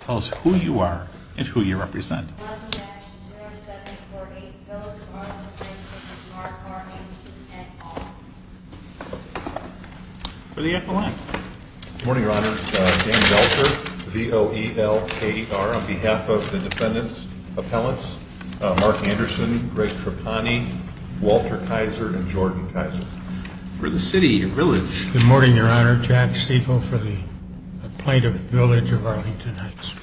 Tell us who you are and who you represent. For the echelon. Good morning, your honor. Dan Belcher, V-O-E-L-K-E-R, on behalf of the defendant's appellants, Mark Anderson, Greg Trapani, Walter Kaiser, and Jordan Kaiser. For the city village. Good morning, your honor. Jack Siegel for the plaintiff village of Arlington Heights.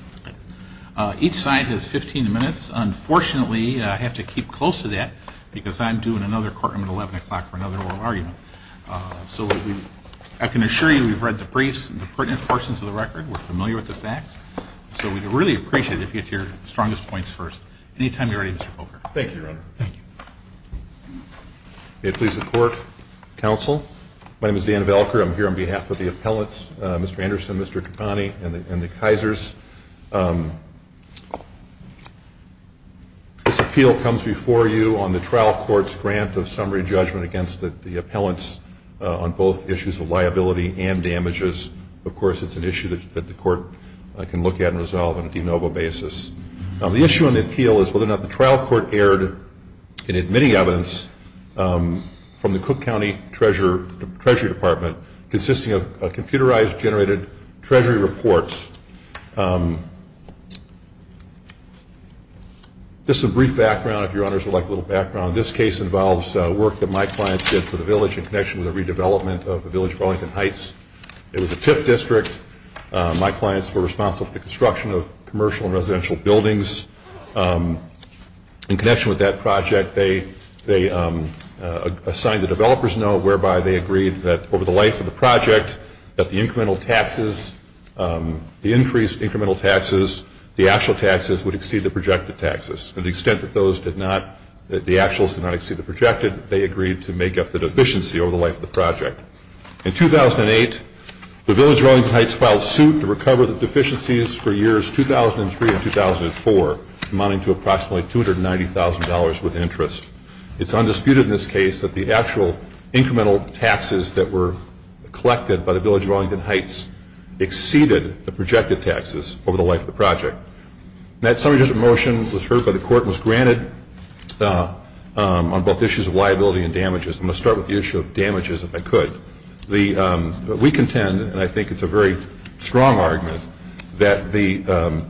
Each side has 15 minutes. Unfortunately, I have to keep close to that because I'm due in another courtroom at 11 o'clock for another oral argument. So, I can assure you we've read the briefs and the pertinent portions of the record. We're familiar with the facts. So, we'd really appreciate it if you get your strongest points first. Anytime you're ready, Mr. Poker. Thank you, your honor. Thank you. May it please the court. Counsel, my name is Dan Belcher. I'm here on behalf of the appellants, Mr. Anderson, Mr. Trapani, and the Kaisers. This appeal comes before you on the trial court's grant of summary judgment against the appellants on both issues of liability and damages. Of course, it's an issue that the court can look at and resolve on a de novo basis. The issue on the appeal is whether or not the trial court erred in admitting evidence from the Cook County Treasury Department consisting of computerized, generated treasury reports. Just a brief background, if your honors would like a little background. This case involves work that my clients did for the village in connection with the redevelopment of the village of Arlington Heights. It was a TIF district. My clients were responsible for the construction of commercial and residential buildings. In connection with that project, they assigned the developers note whereby they agreed that over the life of the project that the incremental taxes, the increased incremental taxes, the actual taxes would exceed the projected taxes. To the extent that those did not, that the actuals did not exceed the projected, they agreed to make up the deficiency over the life of the project. In 2008, the village of Arlington Heights filed suit to recover the deficiencies for years 2003 and 2004, amounting to approximately $290,000 with interest. It's undisputed in this case that the actual incremental taxes that were collected by the village of Arlington Heights exceeded the projected taxes over the life of the project. That summary motion was heard by the court and was granted on both issues of liability and damages. I'm going to start with the issue of damages if I could. We contend, and I think it's a very strong argument, that the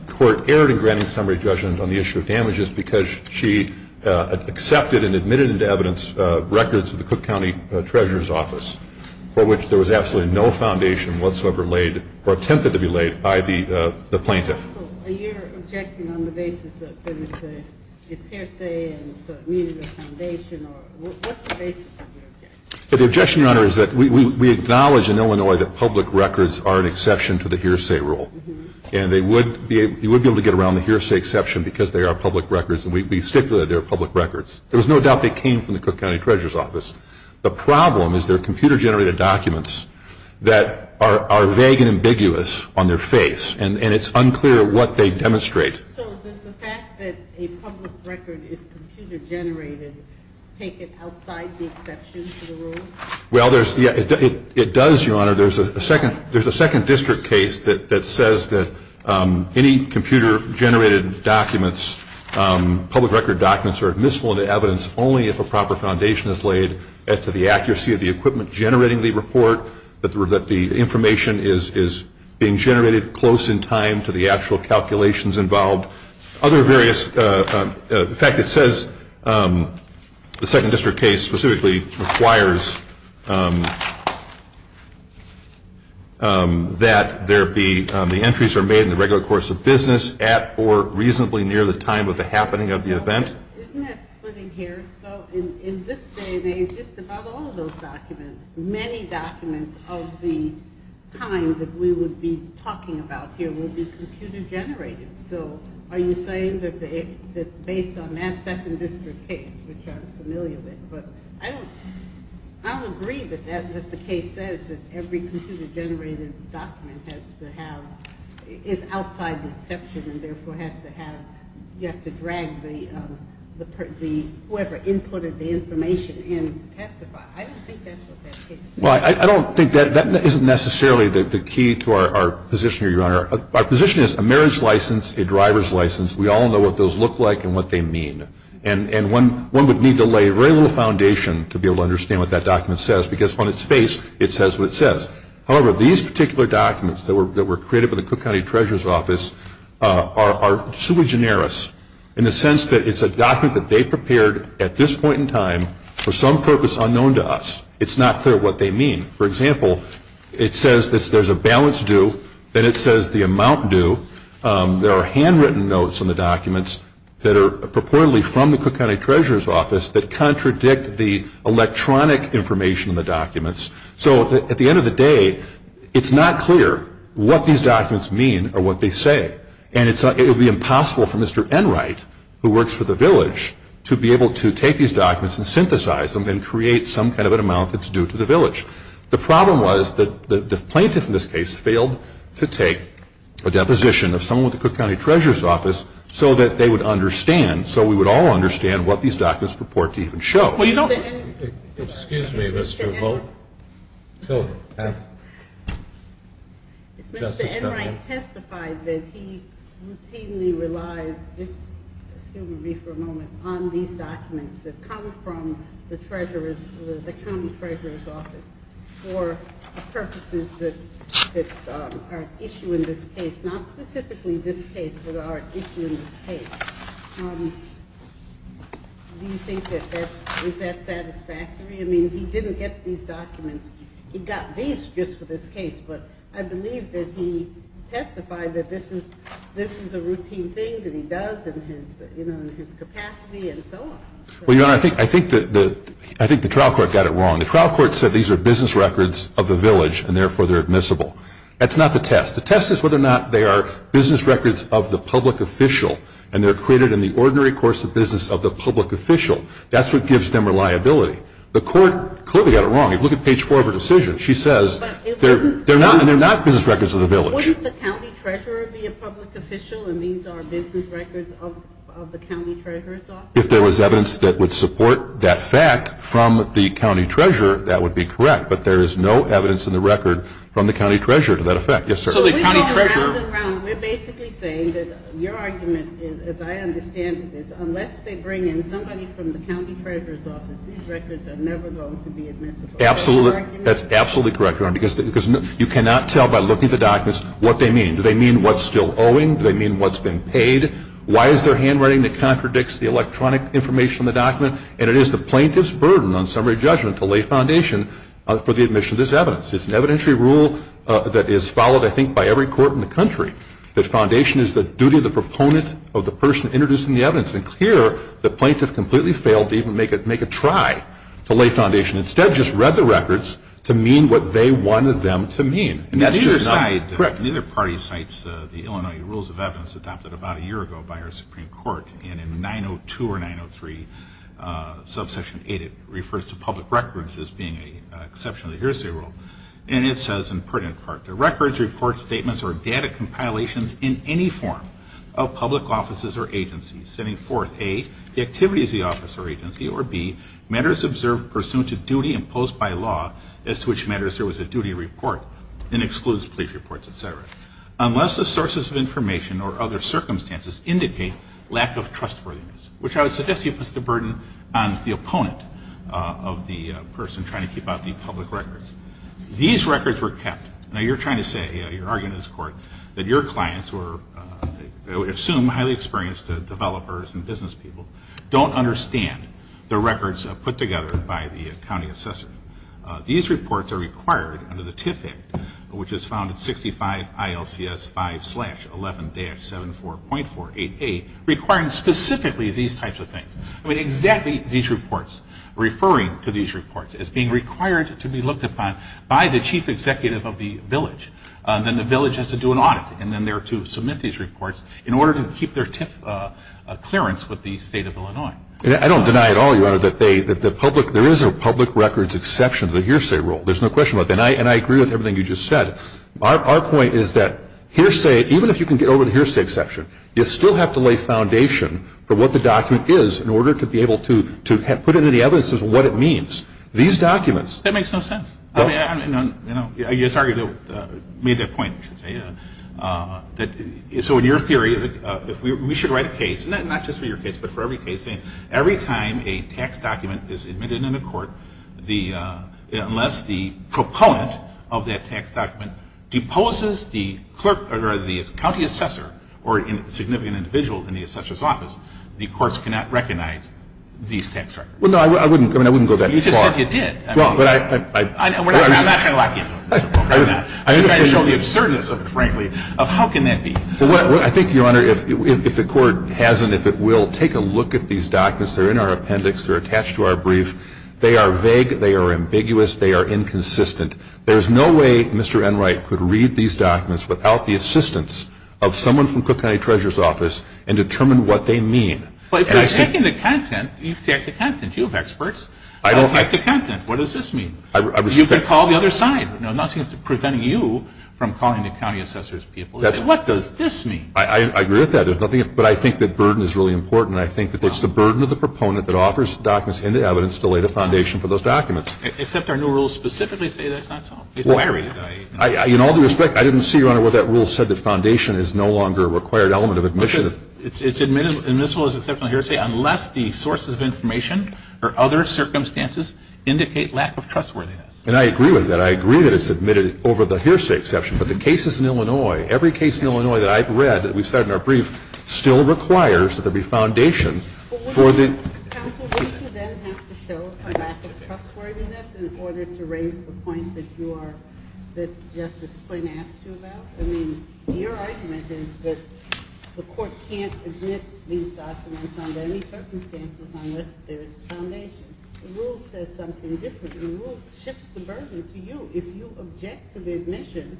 court erred in granting summary judgment on the issue of damages because she accepted and admitted into evidence records of the Cook County Treasurer's Office for which there was absolutely no foundation whatsoever laid or attempted to be laid by the plaintiff. So you're objecting on the basis that it's hearsay and so it needed a foundation. What's the basis of your objection? The objection, Your Honor, is that we acknowledge in Illinois that public records are an exception to the hearsay rule, and you would be able to get around the hearsay exception because they are public records and we stipulate they're public records. There was no doubt they came from the Cook County Treasurer's Office. The problem is they're computer-generated documents that are vague and ambiguous on their face, and it's unclear what they demonstrate. So does the fact that a public record is computer-generated take it outside the exception to the rule? Well, it does, Your Honor. There's a second district case that says that any computer-generated documents, public record documents are admissible into evidence only if a proper foundation is laid as to the accuracy of the equipment generating the report, that the information is being generated close in time to the actual calculations involved. Other various, the fact that it says the second district case specifically requires that the entries are made in the regular course of business at or reasonably near the time of the happening of the event. Isn't that splitting hairs though? In this day and age, just about all of those documents, many documents of the kind that we would be talking about here will be computer-generated. So are you saying that based on that second district case, which I'm familiar with, but I don't agree that the case says that every computer-generated document has to have, is outside the exception and therefore has to have, you have to drag the, whoever inputted the information in to pacify. I don't think that's what that case says. Well, I don't think that, that isn't necessarily the key to our position here, Your Honor. Our position is a marriage license, a driver's license, we all know what those look like and what they mean. And one would need to lay very little foundation to be able to understand what that document says because on its face it says what it says. However, these particular documents that were created by the Cook County Treasurer's Office are sui generis in the sense that it's a document that they prepared at this point in time for some purpose unknown to us. It's not clear what they mean. For example, it says there's a balance due, then it says the amount due. There are handwritten notes on the documents that are purportedly from the Cook County Treasurer's Office that contradict the electronic information in the documents. So at the end of the day, it's not clear what these documents mean or what they say. And it would be impossible for Mr. Enright, who works for the village, to be able to take these documents and synthesize them and create some kind of an amount that's due to the village. The problem was that the plaintiff in this case failed to take a deposition of someone with the Cook County Treasurer's Office so that they would understand, so we would all understand what these documents purport to even show. Excuse me, Mr. Vogt. If Mr. Enright testified that he routinely relies, just excuse me for a moment, on these documents that come from the County Treasurer's Office for purposes that are at issue in this case, not specifically this case, but are at issue in this case, do you think that that's satisfactory? I mean, he didn't get these documents. He got these just for this case, but I believe that he testified that this is a routine thing that he does in his capacity and so on. Well, Your Honor, I think the trial court got it wrong. The trial court said these are business records of the village, and therefore they're admissible. That's not the test. The test is whether or not they are business records of the public official and they're created in the ordinary course of business of the public official. That's what gives them reliability. The court clearly got it wrong. If you look at page 4 of her decision, she says they're not business records of the village. Wouldn't the county treasurer be a public official and these are business records of the county treasurer's office? If there was evidence that would support that fact from the county treasurer, that would be correct, but there is no evidence in the record from the county treasurer to that effect. We're basically saying that your argument, as I understand it, is unless they bring in somebody from the county treasurer's office, these records are never going to be admissible. That's absolutely correct, Your Honor, because you cannot tell by looking at the documents what they mean. Do they mean what's still owing? Do they mean what's being paid? Why is there handwriting that contradicts the electronic information in the document? And it is the plaintiff's burden on summary judgment to lay foundation for the admission of this evidence. It's an evidentiary rule that is followed, I think, by every court in the country, that foundation is the duty of the proponent of the person introducing the evidence. And here, the plaintiff completely failed to even make a try to lay foundation. Instead, just read the records to mean what they wanted them to mean. And that's just not correct. Neither party cites the Illinois Rules of Evidence adopted about a year ago by our Supreme Court, and in 902 or 903, subsection 8, it refers to public records as being an exceptionally hearsay rule. And it says in print, in part, that records, reports, statements, or data compilations in any form of public offices or agencies setting forth A, the activities of the office or agency, or B, matters observed pursuant to duty imposed by law as to which matters there was a duty report, and excludes police reports, et cetera, unless the sources of information or other circumstances indicate lack of trustworthiness, which I would suggest to you puts the burden on the opponent of the person trying to keep out the public records. These records were kept. Now, you're trying to say, you're arguing in this court, that your clients were, I would assume, highly experienced developers and business people, don't understand the records put together by the county assessor. These reports are required under the TIF Act, which is found in 65 ILCS 5-11-74.488, requiring specifically these types of things. I mean, exactly these reports, referring to these reports as being required to be looked upon by the chief executive of the village. Then the village has to do an audit, and then they're to submit these reports in order to keep their TIF clearance with the state of Illinois. I don't deny at all, Your Honor, that there is a public records exception to the hearsay rule. There's no question about that. And I agree with everything you just said. Our point is that hearsay, even if you can get over the hearsay exception, you still have to lay foundation for what the document is in order to be able to put into the evidences what it means. These documents. That makes no sense. I mean, I'm, you know, sorry to make that point, I should say. So in your theory, we should write a case, not just for your case, but for every case, saying every time a tax document is admitted into court, unless the proponent of that tax document deposes the clerk, or rather the county assessor, or a significant individual in the assessor's office, the courts cannot recognize these tax records. Well, no, I wouldn't go that far. You just said you did. I'm not trying to lock you in. I'm trying to show the absurdness, frankly, of how can that be. I think, Your Honor, if the court has and if it will, take a look at these documents. They're in our appendix. They're attached to our brief. They are vague. They are ambiguous. They are inconsistent. There is no way Mr. Enright could read these documents without the assistance of someone from Cook County Treasurer's Office and determine what they mean. But if you're checking the content, you've checked the content. You have experts. I don't. Check the content. What does this mean? You can call the other side. Nothing is preventing you from calling the county assessor's people. What does this mean? I agree with that. But I think that burden is really important. I think that it's the burden of the proponent that offers documents and the evidence to lay the foundation for those documents. Except our new rules specifically say that's not so. In all due respect, I didn't see, Your Honor, where that rule said that foundation is no longer a required element of admission. It's admissible as exceptional hearsay unless the sources of information or other circumstances indicate lack of trustworthiness. And I agree with that. I agree that it's admitted over the hearsay exception. But the cases in Illinois, every case in Illinois that I've read, that we've said in our brief, still requires that there be foundation for the Counsel, would you then have to show a lack of trustworthiness in order to raise the point that you are, that Justice Quinn asked you about? I mean, your argument is that the court can't admit these documents under any circumstances unless there's foundation. The rule says something different. The rule shifts the burden to you. If you object to the admission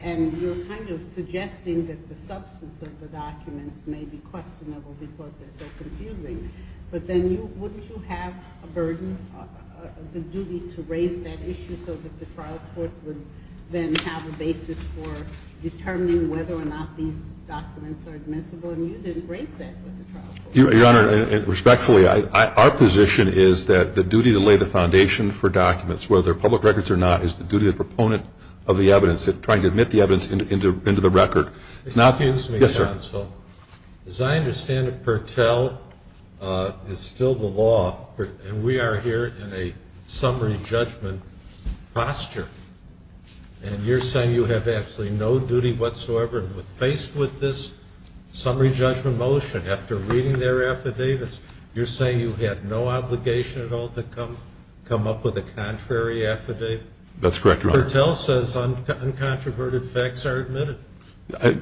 and you're kind of suggesting that the substance of the documents may be questionable because they're so confusing, but then wouldn't you have a burden, the duty to raise that issue so that the trial court would then have a basis for determining whether or not these documents are admissible? And you didn't raise that with the trial court. Your Honor, respectfully, our position is that the duty to lay the foundation for documents, whether they're public records or not, is the duty of the proponent of the evidence, trying to admit the evidence into the record. Excuse me, Counsel. Yes, sir. As I understand it, Pertell is still the law, and we are here in a summary judgment posture, and you're saying you have absolutely no duty whatsoever. Faced with this summary judgment motion, after reading their affidavits, you're saying you had no obligation at all to come up with a contrary affidavit? That's correct, Your Honor. Pertell says uncontroverted facts are admitted.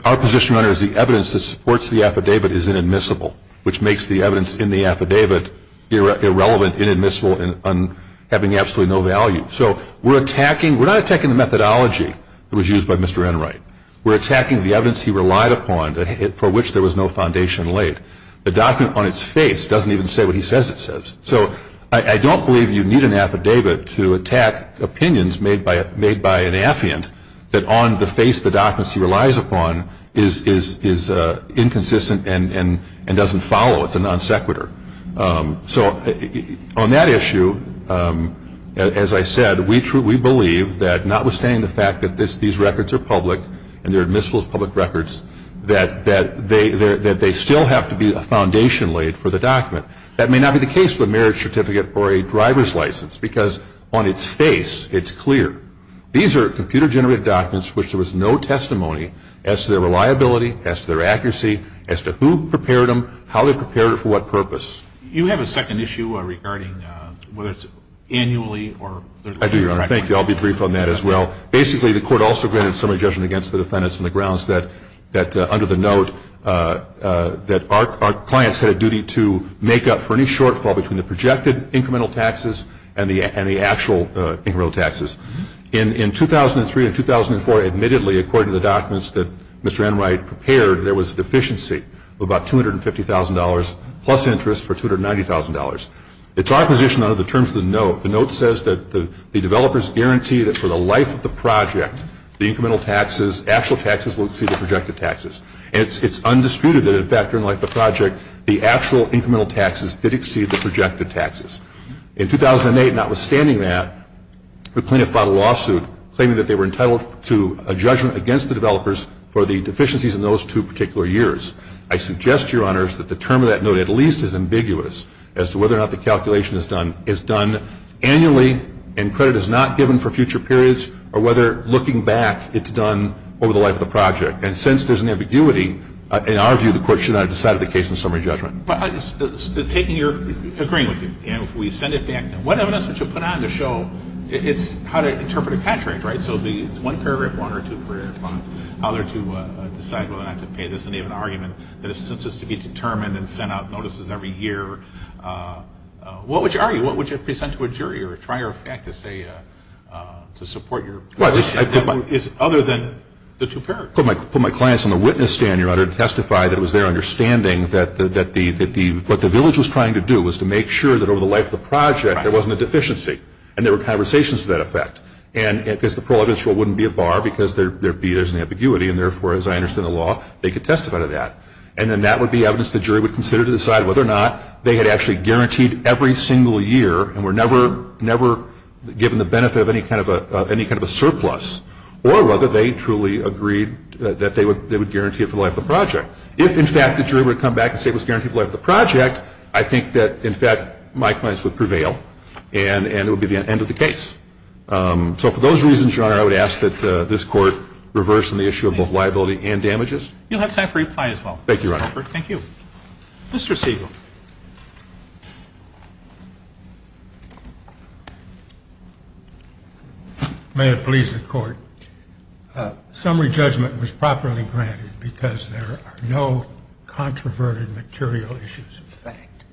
Our position, Your Honor, is the evidence that supports the affidavit is inadmissible, which makes the evidence in the affidavit irrelevant, inadmissible, and having absolutely no value. So we're attacking, we're not attacking the methodology that was used by Mr. Enright. We're attacking the evidence he relied upon for which there was no foundation laid. The document on its face doesn't even say what he says it says. So I don't believe you need an affidavit to attack opinions made by an affiant that, on the face the documents he relies upon, is inconsistent and doesn't follow. It's a non sequitur. So on that issue, as I said, we believe that, notwithstanding the fact that these records are public and they're admissible as public records, that they still have to be a foundation laid for the document. That may not be the case with a marriage certificate or a driver's license because, on its face, it's clear. These are computer-generated documents for which there was no testimony as to their reliability, as to their accuracy, as to who prepared them, how they prepared it, for what purpose. You have a second issue regarding whether it's annually or there's later records. I do, Your Honor. Thank you. I'll be brief on that as well. Basically, the court also granted summary judgment against the defendants on the grounds that, under the note, that our clients had a duty to make up for any shortfall between the projected incremental taxes and the actual incremental taxes. In 2003 and 2004, admittedly, according to the documents that Mr. Enright prepared, there was a deficiency of about $250,000 plus interest for $290,000. It's our position under the terms of the note, the note says that the developers guarantee that for the life of the project, the incremental taxes, actual taxes will exceed the projected taxes. And it's undisputed that, in fact, during the life of the project, the actual incremental taxes did exceed the projected taxes. In 2008, notwithstanding that, the plaintiff filed a lawsuit claiming that they were entitled to a judgment against the developers for the deficiencies in those two particular years. I suggest, Your Honors, that the term of that note at least is ambiguous as to whether or not the calculation is done annually and credit is not given for future periods or whether, looking back, it's done over the life of the project. And since there's an ambiguity, in our view, the court should not have decided the case in summary judgment. But taking your – agreeing with you, and if we send it back, what evidence would you put on to show it's how to interpret a contract, right? So it would be one paragraph, one or two paragraphs, how there to decide whether or not to pay this in the name of an argument that is to be determined and sent out notices every year. What would you argue? What would you present to a jury or a trier of fact to say – to support your position? Well, I put my – Other than the two paragraphs. I put my clients on the witness stand, Your Honor, to testify that it was their understanding that the – what the village was trying to do was to make sure that over the life of the project there wasn't a deficiency. And there were conversations to that effect. And because the prologue in short wouldn't be a bar because there'd be – there's an ambiguity, and therefore, as I understand the law, they could testify to that. And then that would be evidence the jury would consider to decide whether or not they had actually guaranteed every single year and were never given the benefit of any kind of a surplus, or whether they truly agreed that they would guarantee it for the life of the project. If, in fact, the jury would come back and say it was guaranteed for the life of the project, I think that, in fact, my clients would prevail, and it would be the end of the case. So for those reasons, Your Honor, I would ask that this Court reverse on the issue of both liability and damages. You'll have time for reply as well. Thank you, Your Honor. Thank you. Mr. Siegel. May it please the Court. Summary judgment was properly granted because there are no controverted material issues of fact.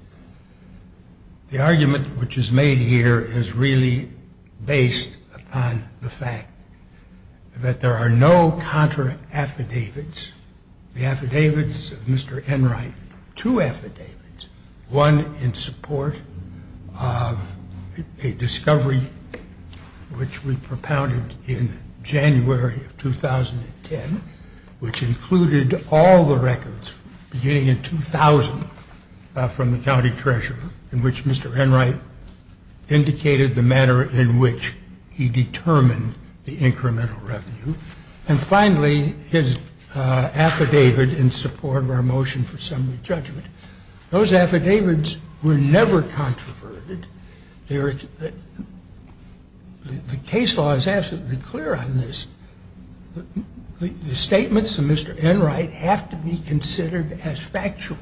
The argument which is made here is really based upon the fact that there are no contra affidavits. The affidavits of Mr. Enright, two affidavits, one in support of a discovery which we propounded in January of 2010, which included all the records beginning in 2000 from the county treasurer, in which Mr. Enright indicated the manner in which he determined the incremental revenue, and finally his affidavit in support of our motion for summary judgment. Those affidavits were never controverted. The case law is absolutely clear on this. The statements of Mr. Enright have to be considered as factual.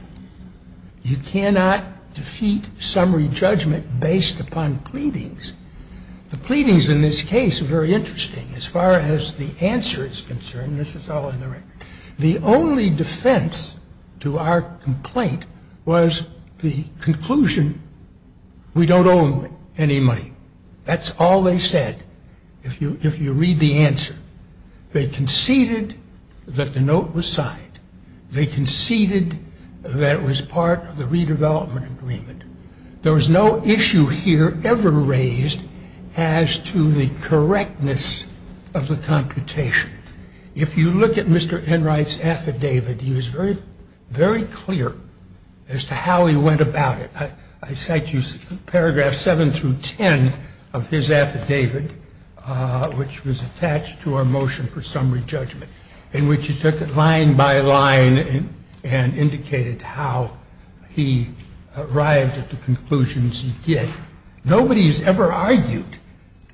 You cannot defeat summary judgment based upon pleadings. The pleadings in this case are very interesting as far as the answer is concerned. This is all in the record. The only defense to our complaint was the conclusion we don't owe him any money. That's all they said, if you read the answer. They conceded that the note was signed. They conceded that it was part of the redevelopment agreement. There was no issue here ever raised as to the correctness of the computation. If you look at Mr. Enright's affidavit, he was very clear as to how he went about it. I cite you Paragraph 7 through 10 of his affidavit, which was attached to our motion for summary judgment, in which he took it line by line and indicated how he arrived at the conclusions he did. Nobody has ever argued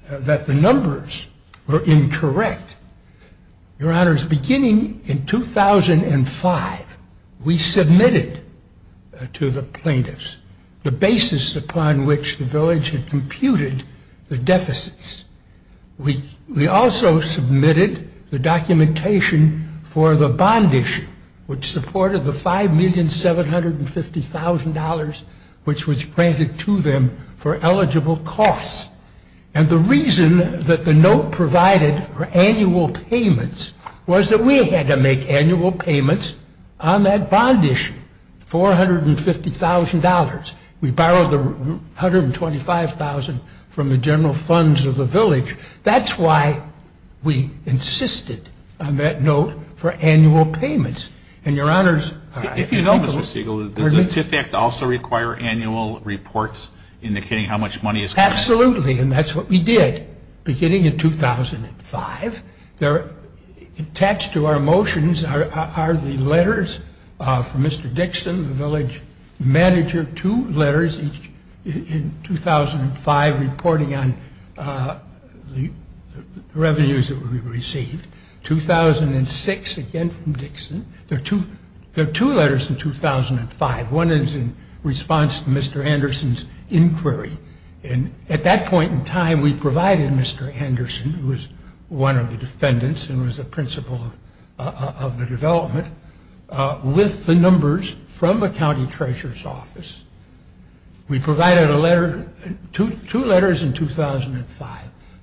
that the numbers were incorrect. Your Honors, beginning in 2005, we submitted to the plaintiffs the basis upon which the village had computed the deficits. We also submitted the documentation for the bond issue, which supported the $5,750,000 which was granted to them for eligible costs. And the reason that the note provided for annual payments was that we had to make annual payments on that bond issue, $450,000. We borrowed the $125,000 from the general funds of the village. That's why we insisted on that note for annual payments. And Your Honors... If you know, Mr. Siegel, does the TIF Act also require annual reports indicating how much money is collected? Absolutely, and that's what we did beginning in 2005. Attached to our motions are the letters from Mr. Dixon, the village manager. Two letters, each in 2005, reporting on the revenues that we received. 2006, again from Dixon. There are two letters in 2005. One is in response to Mr. Anderson's inquiry. At that point in time, we provided Mr. Anderson, who was one of the defendants and was a principal of the development, with the numbers from the county treasurer's office. We provided two letters in 2005,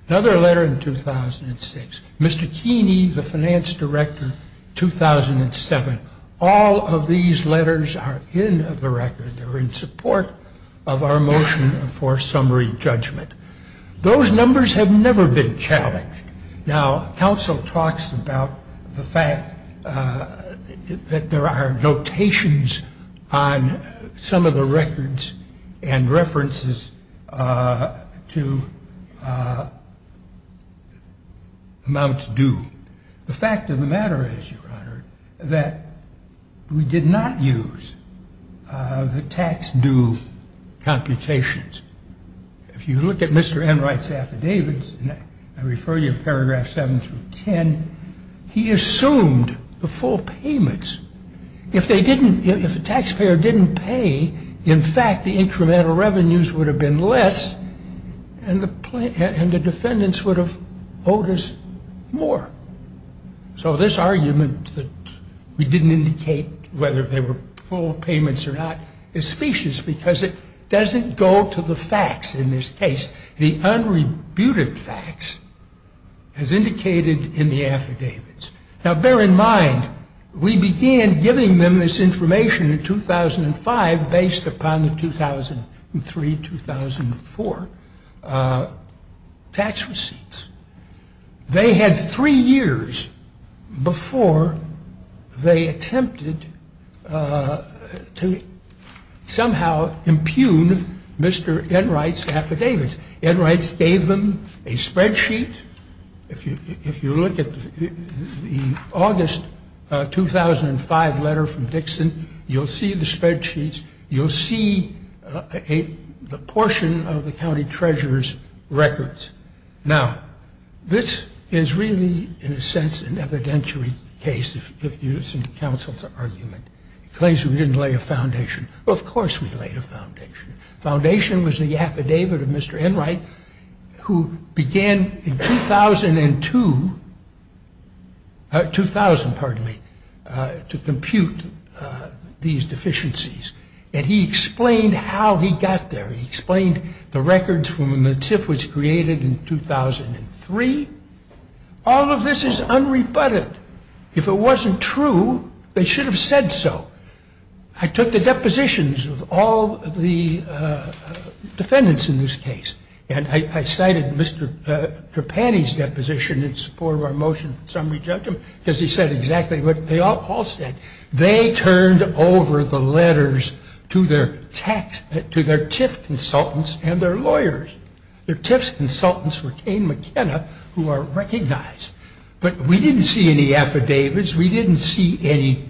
another letter in 2006. Mr. Keeney, the finance director, 2007. All of these letters are in the record. They're in support of our motion for summary judgment. Those numbers have never been challenged. Now, counsel talks about the fact that there are notations on some of the records and references to amounts due. The fact of the matter is, Your Honor, that we did not use the tax due computations. If you look at Mr. Enright's affidavits, and I refer you to paragraphs 7 through 10, he assumed the full payments. If the taxpayer didn't pay, in fact, the incremental revenues would have been less, and the defendants would have owed us more. So this argument that we didn't indicate whether they were full payments or not is specious, because it doesn't go to the facts in this case. The unrebutted facts, as indicated in the affidavits. Now, bear in mind, we began giving them this information in 2005 based upon the 2003-2004 tax receipts. They had three years before they attempted to somehow impugn Mr. Enright's affidavits. Enright gave them a spreadsheet. If you look at the August 2005 letter from Dixon, you'll see the spreadsheets. You'll see a portion of the county treasurer's records. Now, this is really, in a sense, an evidentiary case, if you listen to counsel's argument. He claims we didn't lay a foundation. Well, of course we laid a foundation. Foundation was the affidavit of Mr. Enright, who began in 2002, 2000, pardon me, to compute these deficiencies. And he explained how he got there. He explained the records from when the TIF was created in 2003. All of this is unrebutted. If it wasn't true, they should have said so. I took the depositions of all the defendants in this case. And I cited Mr. Trapani's deposition in support of our motion for summary judgment because he said exactly what they all said. They turned over the letters to their TIF consultants and their lawyers. Their TIF consultants were Kane McKenna, who are recognized. But we didn't see any affidavits. We didn't see any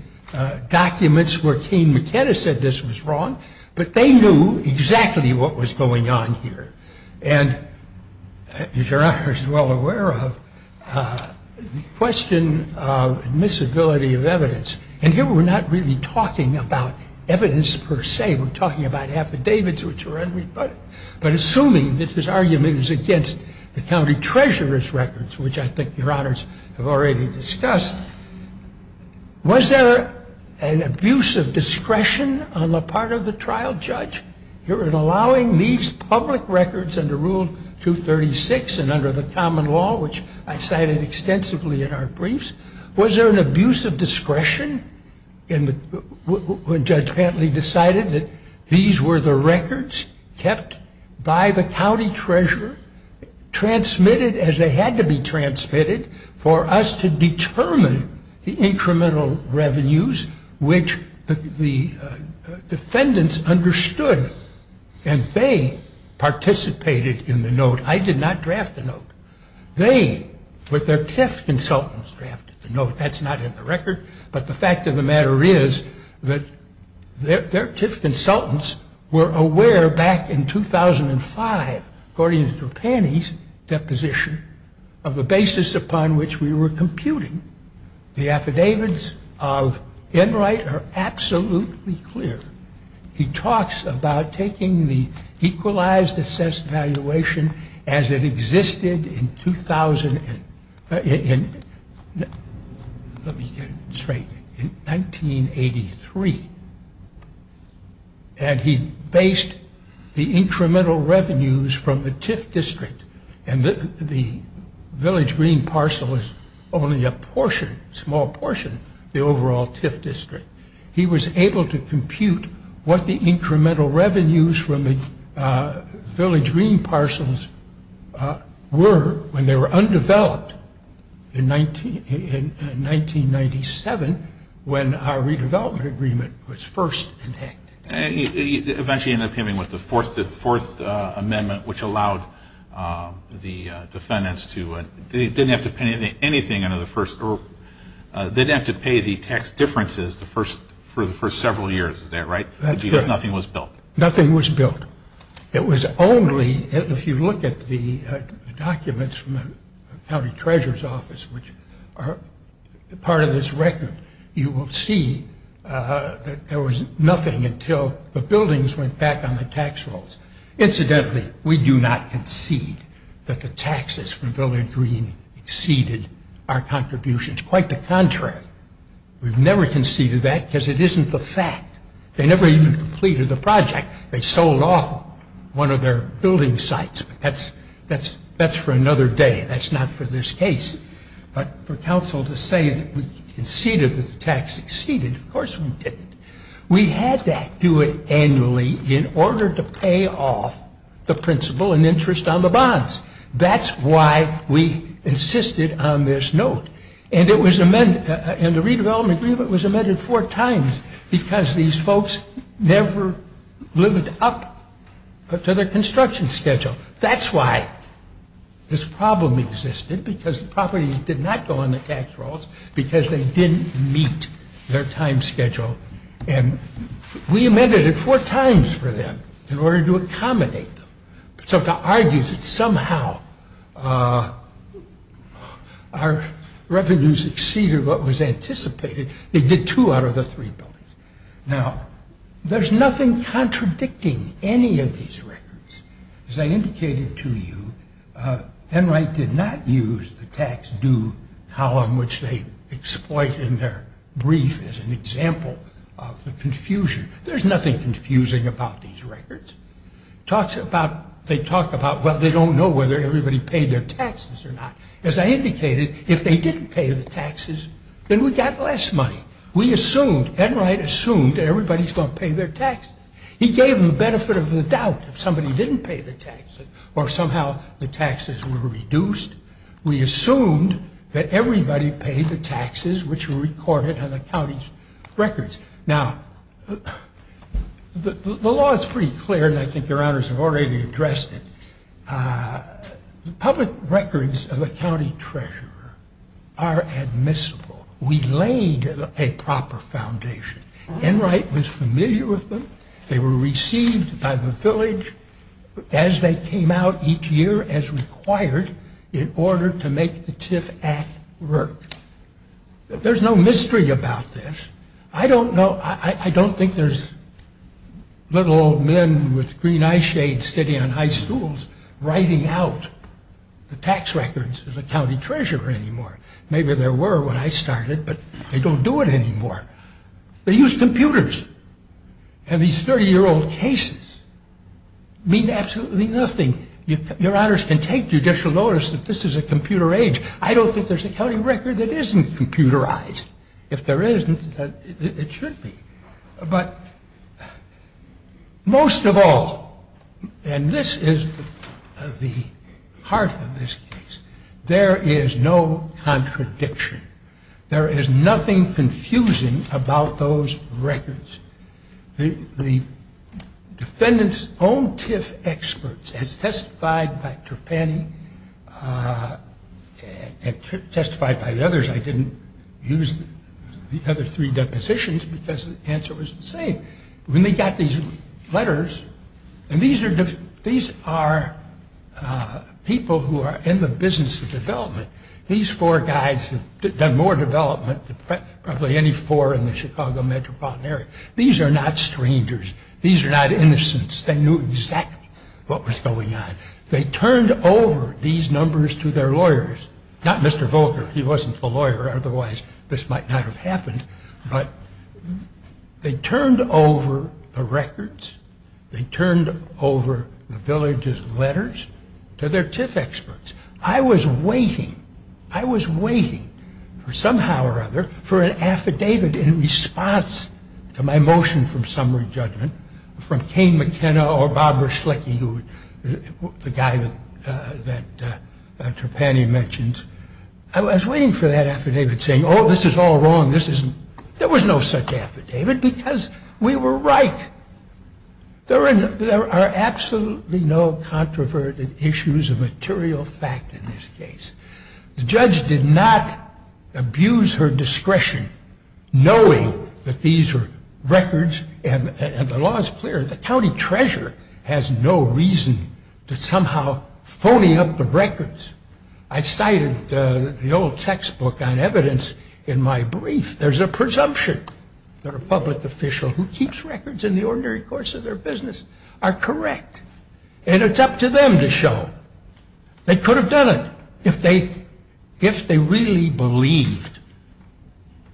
documents where Kane McKenna said this was wrong. But they knew exactly what was going on here. And, as Your Honor is well aware of, the question of admissibility of evidence. And here we're not really talking about evidence per se. We're talking about affidavits, which are unrebutted. But assuming that his argument is against the county treasurer's records, which I think Your Honors have already discussed, was there an abuse of discretion on the part of the trial judge in allowing these public records under Rule 236 and under the common law, which I cited extensively in our briefs? Was there an abuse of discretion when Judge Pantley decided that these were the records kept by the county treasurer, transmitted as they had to be transmitted, for us to determine the incremental revenues which the defendants understood? And they participated in the note. I did not draft the note. They, with their TIF consultants, drafted the note. That's not in the record. But the fact of the matter is that their TIF consultants were aware back in 2005, according to Pantley's deposition, of the basis upon which we were computing. The affidavits of Enright are absolutely clear. He talks about taking the Equalized Assessed Valuation as it existed in 2000, in, let me get it straight, in 1983. And he based the incremental revenues from the TIF district, and the village green parcel is only a portion, small portion, the overall TIF district. He was able to compute what the incremental revenues from the village green parcels were when they were undeveloped in 1997, when our redevelopment agreement was first enacted. And he eventually ended up coming up with the Fourth Amendment, which allowed the defendants to, they didn't have to pay anything under the first, they didn't have to pay the tax differences for the first several years. Is that right? Because nothing was built. Nothing was built. It was only, if you look at the documents from the county treasurer's office, which are part of this record, you will see that there was nothing until the buildings went back on the tax rolls. Incidentally, we do not concede that the taxes from village green exceeded our contributions. Quite the contrary. We've never conceded that because it isn't the fact. They never even completed the project. They sold off one of their building sites. That's for another day. That's not for this case. But for counsel to say that we conceded that the tax exceeded, of course we didn't. We had to do it annually in order to pay off the principal and interest on the bonds. That's why we insisted on this note. And the redevelopment agreement was amended four times because these folks never lived up to their construction schedule. That's why this problem existed, because the properties did not go on the tax rolls because they didn't meet their time schedule. And we amended it four times for them in order to accommodate them. So to argue that somehow our revenues exceeded what was anticipated, they did two out of the three buildings. Now, there's nothing contradicting any of these records. As I indicated to you, Enright did not use the tax due column, which they exploit in their brief as an example of the confusion. There's nothing confusing about these records. They talk about, well, they don't know whether everybody paid their taxes or not. As I indicated, if they didn't pay the taxes, then we got less money. We assumed, Enright assumed, everybody's going to pay their taxes. He gave them the benefit of the doubt if somebody didn't pay the taxes or somehow the taxes were reduced. We assumed that everybody paid the taxes, which were recorded on the county's records. Now, the law is pretty clear, and I think your honors have already addressed it. The public records of a county treasurer are admissible. We laid a proper foundation. Enright was familiar with them. They were received by the village as they came out each year as required in order to make the TIF Act work. There's no mystery about this. I don't know, I don't think there's little old men with green eyeshades sitting on high stools writing out the tax records of the county treasurer anymore. Maybe there were when I started, but they don't do it anymore. They use computers. And these 30-year-old cases mean absolutely nothing. Your honors can take judicial notice that this is a computer age. I don't think there's a county record that isn't computerized. If there isn't, it should be. But most of all, and this is the heart of this case, there is no contradiction. There is nothing confusing about those records. The defendant's own TIF experts, as testified by Trapani and testified by the others, I didn't use the other three depositions because the answer was the same. When they got these letters, and these are people who are in the business of development, these four guys have done more development than probably any four in the Chicago metropolitan area. These are not strangers. These are not innocents. They knew exactly what was going on. They turned over these numbers to their lawyers. Not Mr. Volker. He wasn't the lawyer. Otherwise, this might not have happened. But they turned over the records. They turned over the village's letters to their TIF experts. I was waiting, I was waiting for somehow or other for an affidavit in response to my motion from summary judgment from Kane McKenna or Barbara Schlicke, the guy that Trapani mentions. I was waiting for that affidavit saying, oh, this is all wrong. There was no such affidavit because we were right. There are absolutely no controverted issues of material fact in this case. The judge did not abuse her discretion knowing that these are records and the law is clear. The county treasurer has no reason to somehow phony up the records. I cited the old textbook on evidence in my brief. There's a presumption that a public official who keeps records in the ordinary course of their business are correct. And it's up to them to show. They could have done it if they really believed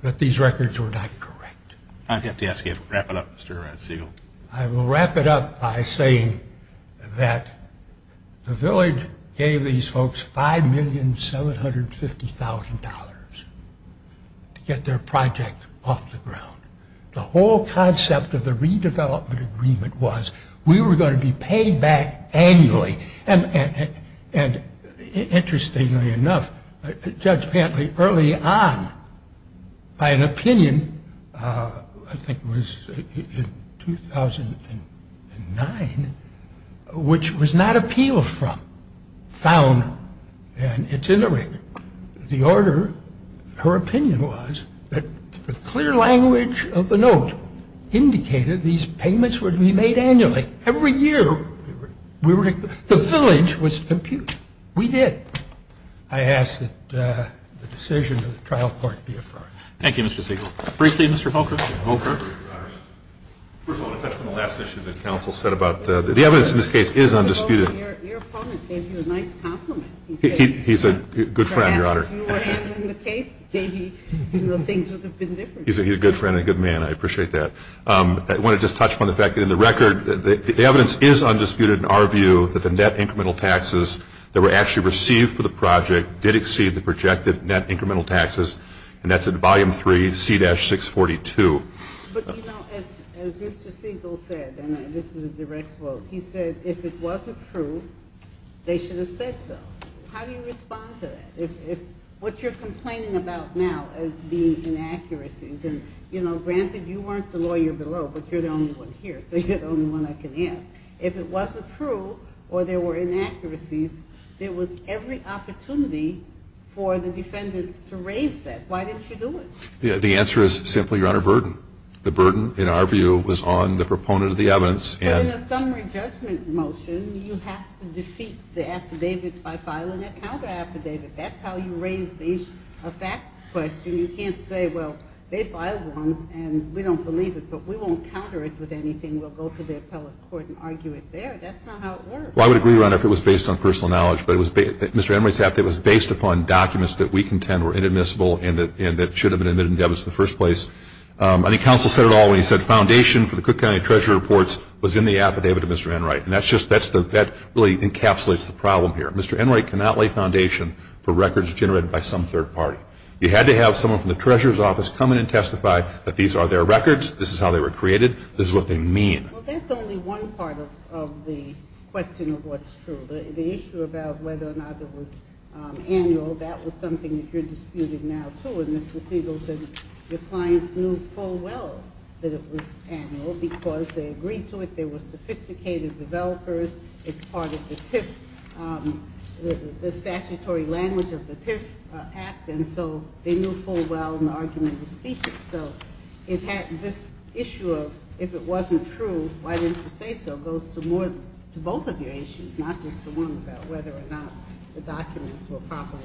that these records were not correct. I'd have to ask you to wrap it up, Mr. Segal. I will wrap it up by saying that the village gave these folks $5,750,000 to get their project off the ground. The whole concept of the redevelopment agreement was we were going to be paid back annually. And interestingly enough, Judge Pantley early on, by an opinion, I think it was in 2009, which was not appealed from, found and it's in the rig. The order, her opinion was that the clear language of the note indicated these payments would be made annually. Every year, the village was appealed. We did. I ask that the decision of the trial court be affirmed. Thank you, Mr. Segal. Briefly, Mr. Holker. First of all, I want to touch on the last issue that counsel said about the evidence in this case is undisputed. Your opponent gave you a nice compliment. He's a good friend, Your Honor. Perhaps if you were handling the case, maybe things would have been different. He's a good friend and a good man. I appreciate that. I want to just touch upon the fact that in the record, the evidence is undisputed in our view that the net incremental taxes that were actually received for the project did exceed the projected net incremental taxes, and that's in Volume 3, C-642. But, you know, as Mr. Segal said, and this is a direct quote, he said if it wasn't true, they should have said so. How do you respond to that? What you're complaining about now is the inaccuracies. And, you know, granted, you weren't the lawyer below, but you're the only one here, so you're the only one I can ask. If it wasn't true or there were inaccuracies, there was every opportunity for the defendants to raise that. Why didn't you do it? The answer is simply, Your Honor, burden. The burden, in our view, was on the proponent of the evidence. But in a summary judgment motion, you have to defeat the affidavits by filing a counteraffidavit. That's how you raise the issue. You can't say, well, they filed one, and we don't believe it, but we won't counter it with anything. We'll go to the appellate court and argue it there. That's not how it works. Well, I would agree, Your Honor, if it was based on personal knowledge. But Mr. Enright's affidavit was based upon documents that we contend were inadmissible and that should have been admitted in evidence in the first place. I think counsel said it all when he said foundation for the Cook County Treasurer Reports was in the affidavit of Mr. Enright. And that really encapsulates the problem here. Mr. Enright cannot lay foundation for records generated by some third party. You had to have someone from the Treasurer's Office come in and testify that these are their records, this is how they were created, this is what they mean. Well, that's only one part of the question of what's true. The issue about whether or not it was annual, that was something that you're disputing now, too. And Mr. Siegel said your clients knew full well that it was annual because they agreed to it, there were sophisticated developers, it's part of the TIF, the statutory language of the TIF Act, and so they knew full well in the argument to speak it. So this issue of if it wasn't true, why didn't you say so goes to both of your issues, not just the one about whether or not the documents were properly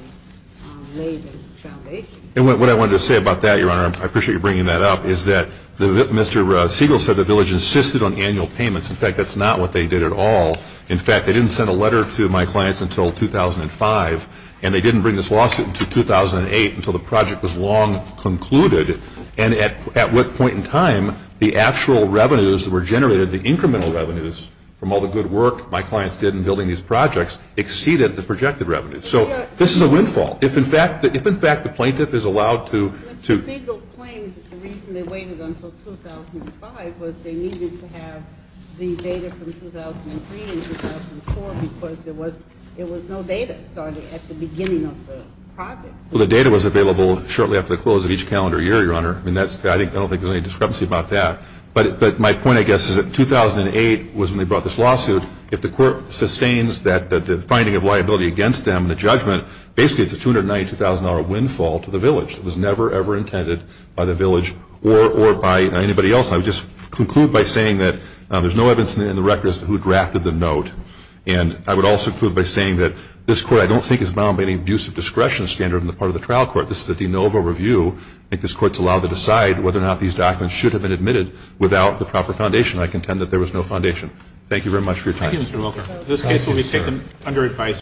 laid in the foundation. And what I wanted to say about that, Your Honor, I appreciate you bringing that up, is that Mr. Siegel said the village insisted on annual payments. In fact, that's not what they did at all. In fact, they didn't send a letter to my clients until 2005, and they didn't bring this lawsuit until 2008 until the project was long concluded, and at what point in time the actual revenues that were generated, the incremental revenues from all the good work my clients did in building these projects, exceeded the projected revenues. So this is a windfall. If in fact, if in fact the plaintiff is allowed to, to ---- Mr. Siegel claimed the reason they waited until 2005 was they needed to have the data from 2003 and 2004 because there was, there was no data started at the beginning of the project. Well, the data was available shortly after the close of each calendar year, Your Honor. I mean, that's, I don't think there's any discrepancy about that. But my point, I guess, is that 2008 was when they brought this lawsuit. If the Court sustains that the finding of liability against them in the judgment basically it's a $292,000 windfall to the village. It was never, ever intended by the village or by anybody else. I would just conclude by saying that there's no evidence in the record as to who drafted the note. And I would also conclude by saying that this Court, I don't think is bound by any abuse of discretion standard on the part of the trial court. This is a de novo review. I think this Court is allowed to decide whether or not these documents should have been admitted without the proper foundation. I contend that there was no foundation. Thank you very much for your time. Thank you, Mr. Wilker. This case will be taken under advice.